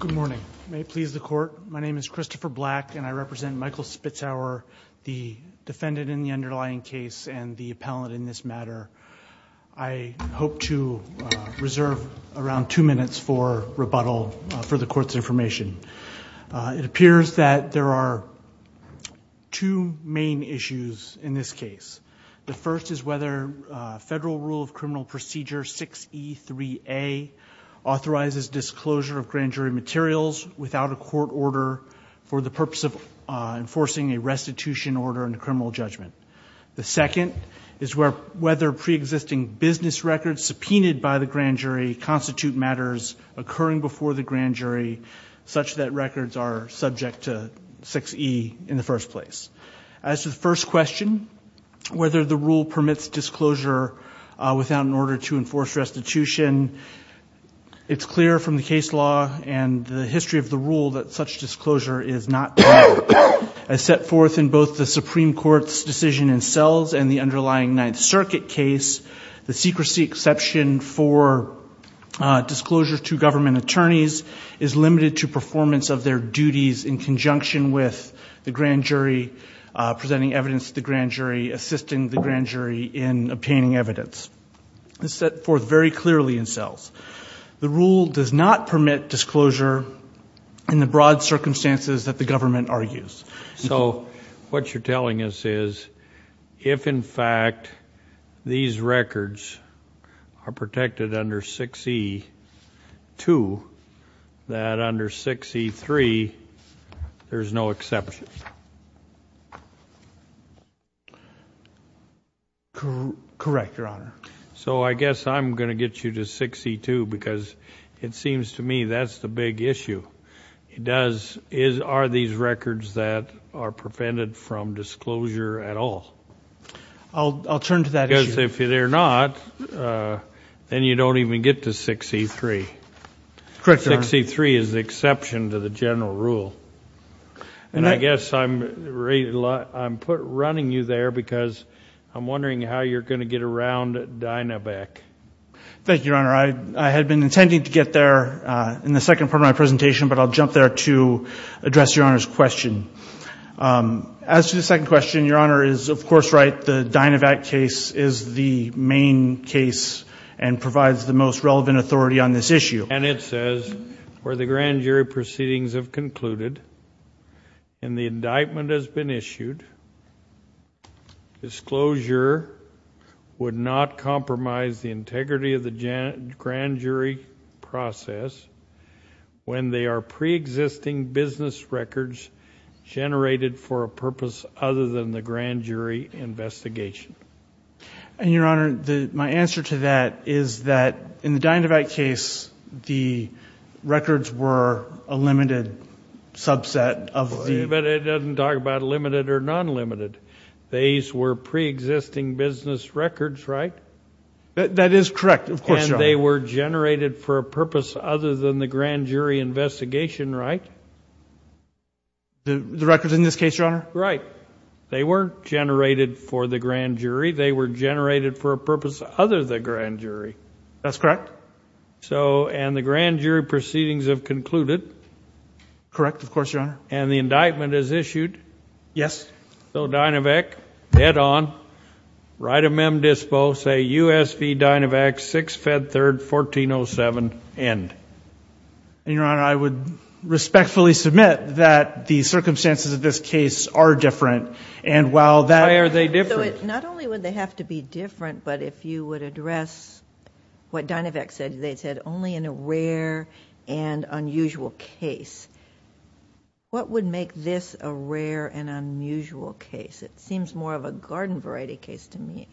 Good morning. May it please the court, my name is Christopher Black and I represent Michael Spitzauer, the defendant in the underlying case and the appellate in this matter. I hope to reserve around two minutes for rebuttal for the court's information. It appears that there are two main issues in this case. The first is whether federal rule of criminal procedure 6E3A authorizes disclosure of grand jury materials without a court order for the purpose of enforcing a restitution order in a criminal judgment. The second is whether pre-existing business records subpoenaed by the grand jury constitute matters occurring before the grand jury such that records are subject to 6E in the first place. As to the order to enforce restitution, it's clear from the case law and the history of the rule that such disclosure is not valid. As set forth in both the Supreme Court's decision in Sells and the underlying Ninth Circuit case, the secrecy exception for disclosure to government attorneys is limited to performance of their duties in conjunction with the grand jury evidence. As set forth very clearly in Sells, the rule does not permit disclosure in the broad circumstances that the government argues. So what you're telling us is if, in fact, these records are protected under 6E2, that I guess I'm going to get you to 6E2 because it seems to me that's the big issue. Are these records that are prevented from disclosure at all? I'll turn to that issue. Because if they're not, then you don't even get to 6E3. Correct, Your Honor. 6E3 is the exception to the general rule. And I guess I'm running you there because I'm wondering how you're going to get around DynaVac. Thank you, Your Honor. I had been intending to get there in the second part of my presentation, but I'll jump there to address Your Honor's question. As to the second question, Your Honor is, of course, right. The DynaVac case is the main case and provides the most relevant authority on this issue. And it says where the grand jury proceedings have concluded and the indictment has been disclosure would not compromise the integrity of the grand jury process when they are pre-existing business records generated for a purpose other than the grand jury investigation. And Your Honor, my answer to that is that in the DynaVac case, the records were a limited subset of the... But it doesn't talk about limited or non-limited. These were pre-existing business records, right? That is correct, of course, Your Honor. And they were generated for a purpose other than the grand jury investigation, right? The records in this case, Your Honor? Right. They weren't generated for the grand jury. They were generated for a purpose other than grand jury. That's correct. Correct, of course, Your Honor. And the indictment is issued. Yes. So DynaVac, dead on, right of mem dispo, say USV DynaVac, 6-Fed-3rd-1407, end. And Your Honor, I would respectfully submit that the circumstances of this case are different. And while that... Why are they different? Not only would they have to be different, but if you would address what DynaVac said, they said only in a rare and unusual case. What would make this a rare and unusual case? It seems more of a garden variety case to me.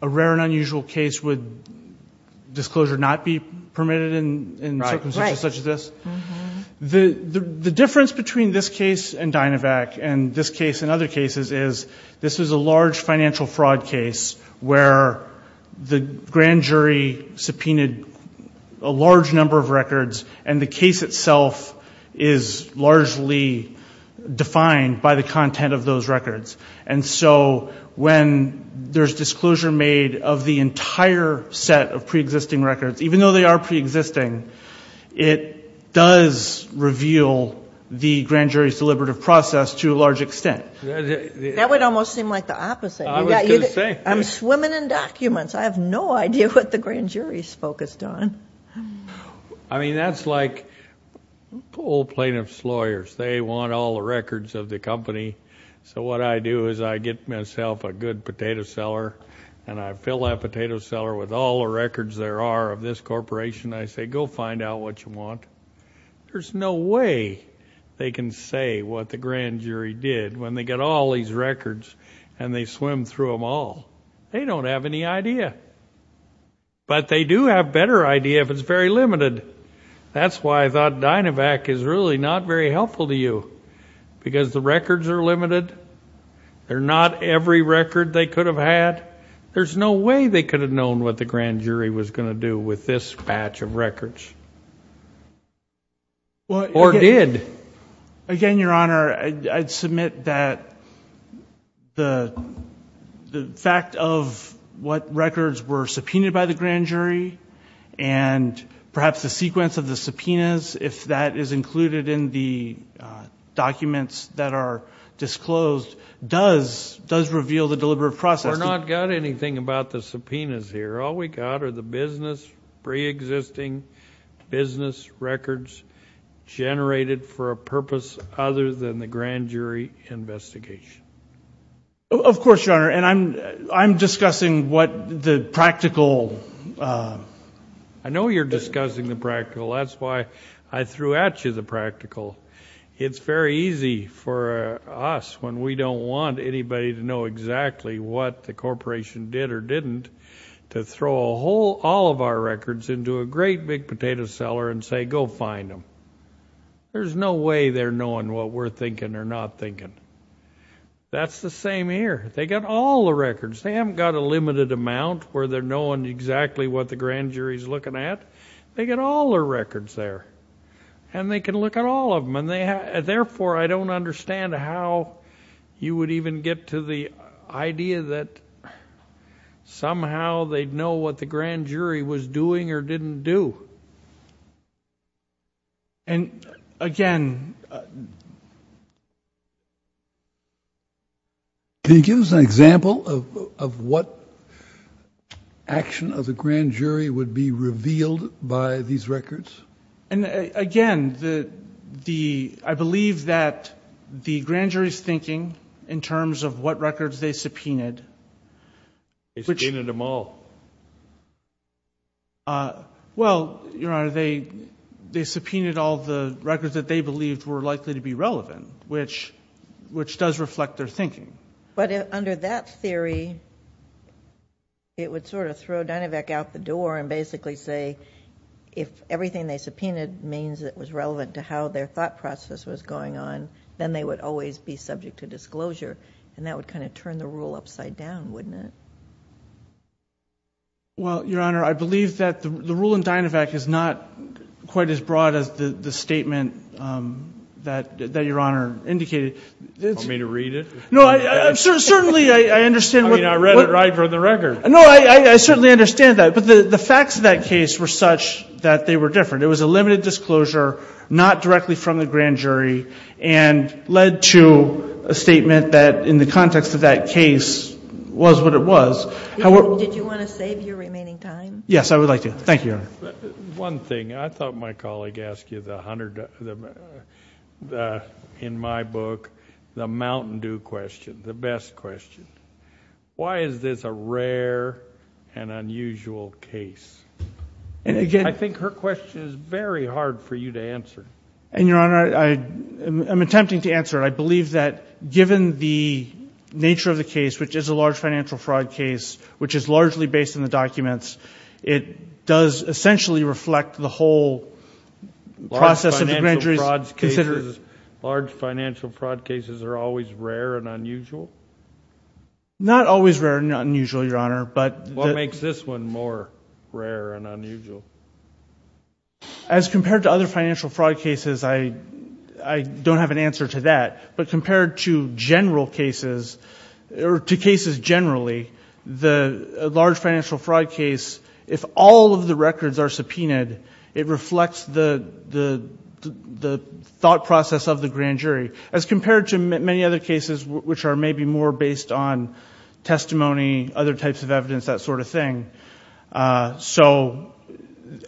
A rare and unusual case would disclosure not be permitted in circumstances such as this? The difference between this case and DynaVac and this case and other cases is this is a case where the grand jury subpoenaed a large number of records and the case itself is largely defined by the content of those records. And so when there's disclosure made of the entire set of pre-existing records, even though they are pre-existing, it does reveal the grand jury's deliberative process to a large extent. That would almost seem like the opposite. I was going to say. I'm swimming in documents. I have no idea what the grand jury's focused on. I mean, that's like old plaintiff's lawyers. They want all the records of the company. So what I do is I get myself a good potato seller and I fill that potato seller with all the records there are of this corporation. I say, go find out what you want. There's no way they can say what the grand jury did when they get all these records and they swim through them all. They don't have any idea. But they do have better idea if it's very limited. That's why I thought DynaVac is really not very helpful to you because the records are limited. They're not every record they could have had. There's no way they could have known what the grand jury was going to do with this batch of records or did. Again, Your Honor, I'd submit that the fact of what records were subpoenaed by the grand jury and perhaps the sequence of the subpoenas, if that is included in the documents that are disclosed, does reveal the deliberate process. We're not got anything about the subpoenas here. All we got are the business, preexisting business records generated for a purpose other than the grand jury investigation. Of course, Your Honor. I'm discussing what the practical... I know you're discussing the practical. That's why I threw at you the practical. It's very easy for us when we don't want anybody to know exactly what the corporation did or did not do, to go to a very big potato seller and say, go find them. There's no way they're knowing what we're thinking or not thinking. That's the same here. They got all the records. They haven't got a limited amount where they're knowing exactly what the grand jury's looking at. They got all their records there. They can look at all of them. Therefore, I don't understand how you would even get to the idea that somehow they'd know what the grand jury was doing or didn't do. Again... Can you give us an example of what action of the grand jury would be revealed by these records? Again, I believe that the grand jury's thinking in terms of what records they subpoenaed... They subpoenaed them all. Well, Your Honor, they subpoenaed all the records that they believed were likely to be relevant, which does reflect their thinking. Under that theory, it would sort of throw Dynavac out the door and basically say if everything they subpoenaed means it was relevant to how their thought process was going on, then they would always be subject to disclosure. That would kind of turn the rule upside down, wouldn't it? Well, Your Honor, I believe that the rule in Dynavac is not quite as broad as the statement that Your Honor indicated. Want me to read it? No, certainly I understand what... I mean, I read it right from the record. No, I certainly understand that, but the facts of that case were such that they were different. It was a limited disclosure, not directly from the grand jury, and led to a statement that in the context of that case was what it was. Did you want to save your remaining time? Yes, I would like to. Thank you, Your Honor. One thing, I thought my colleague asked you the hundred... in my book, the Mountain Dew question, the best question. Why is this a rare and unusual case? And again... I think her question is very hard for you to answer. And Your Honor, I'm attempting to answer it. I believe that given the nature of the case, which is a large financial fraud case, which is largely based on the documents, it does essentially reflect the whole process of the grand jury's... Large financial fraud cases are always rare and unusual? What makes this one more rare and unusual? As compared to other financial fraud cases, I don't have an answer to that. But compared to general cases... or to cases generally, the large financial fraud case, if all of the records are subpoenaed, it reflects the thought process of the grand jury. As compared to many other cases, which are maybe more based on testimony, other types of evidence, that sort of thing. So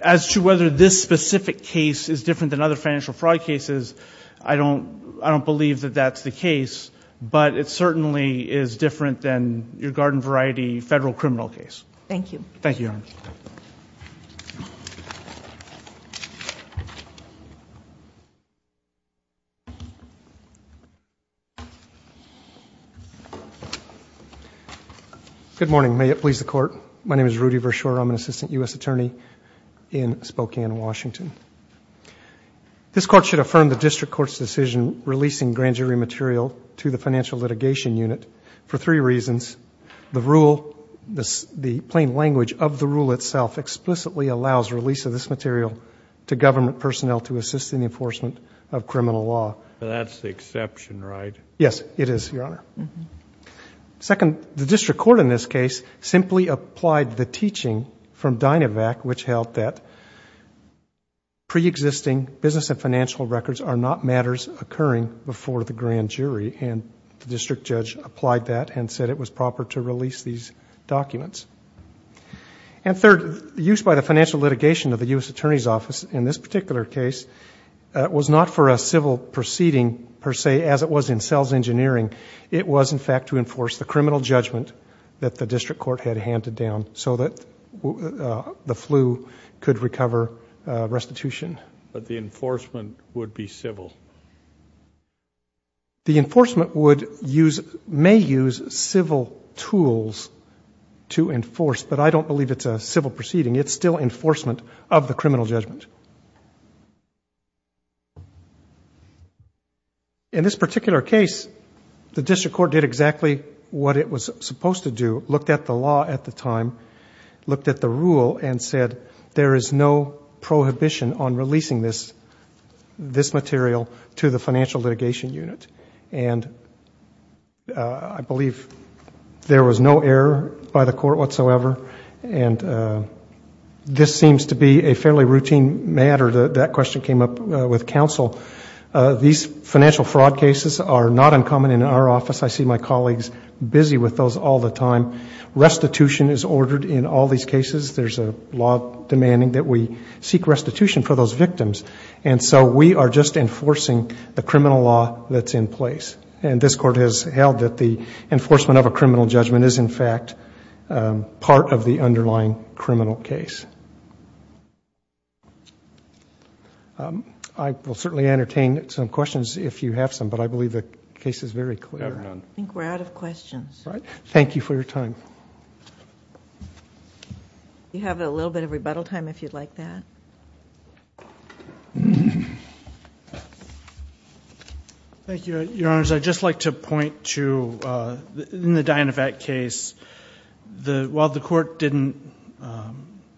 as to whether this specific case is different than other financial fraud cases, I don't believe that that's the case. But it certainly is different than your garden variety federal criminal case. Thank you. Thank you, Your Honor. Good morning. May it please the Court. My name is Rudy Vershoor. I'm an Assistant U.S. Attorney in Spokane, Washington. This Court should affirm the District Court's decision releasing grand jury material to the Financial Litigation Unit for three reasons. The rule... the plain language of the rule itself... explicitly allows release of this material to government personnel to assist in the enforcement of criminal law. That's the exception, right? Yes, it is, Your Honor. Second, the District Court in this case simply applied the teaching from Dynavac, which held that pre-existing business and financial records are not matters occurring before the grand jury. And the District Judge applied that and said it was proper to release these documents. And third, the use by the Financial Litigation of the U.S. Attorney's Office in this particular case was not for a civil proceeding, per se, as it was in sales engineering. It was, in fact, to enforce the criminal judgment that the District Court had handed down so that the flu could recover restitution. But the enforcement would be civil? The enforcement would use... may use civil tools to enforce, but I don't believe it's a civil proceeding. It's still enforcement of the criminal judgment. In this particular case, the District Court did exactly what it was supposed to do, looked at the law at the time, looked at the rule, and said there is no prohibition on releasing this material to the Financial Litigation Unit. And I believe there was no error by the Court whatsoever. And this seems to be a fairly routine matter. That question came up with counsel. These financial fraud cases are not uncommon in our office. I see my colleagues busy with those all the time. Restitution is ordered in all these cases. There's a law demanding that we seek restitution for those victims. And so we are just enforcing the criminal law that's in place. And this Court has held that the enforcement of a criminal judgment is, in fact, part of the underlying criminal case. I will certainly entertain some questions if you have some, but I believe the case is very clear. I think we're out of questions. Thank you for your time. Do you have a little bit of rebuttal time if you'd like that? Thank you, Your Honors. I'd just like to point to, in the Dynevac case, while the Court didn't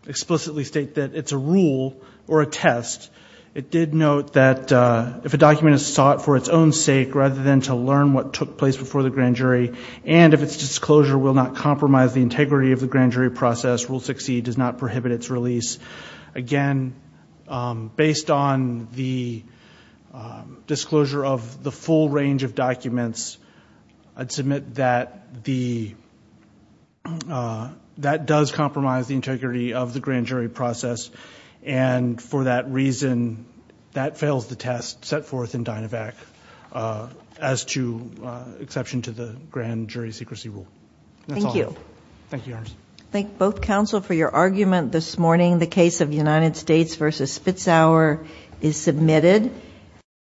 explicitly state that it's a rule or a test, it did note that if a document is sought for its own sake rather than to learn what took place before the grand jury, and if its disclosure will not compromise the integrity of the grand jury process, Rule 6e does not prohibit its release. Again, based on the disclosure of the full range of documents, I'd submit that that does compromise the integrity of the grand jury process, and for that reason that fails the test set forth in Dynevac as to exception to the grand jury secrecy rule. Thank you. Thank you, Your Honors. Thank both counsel for your argument this morning. The case of United States v. Fitzhauer is submitted.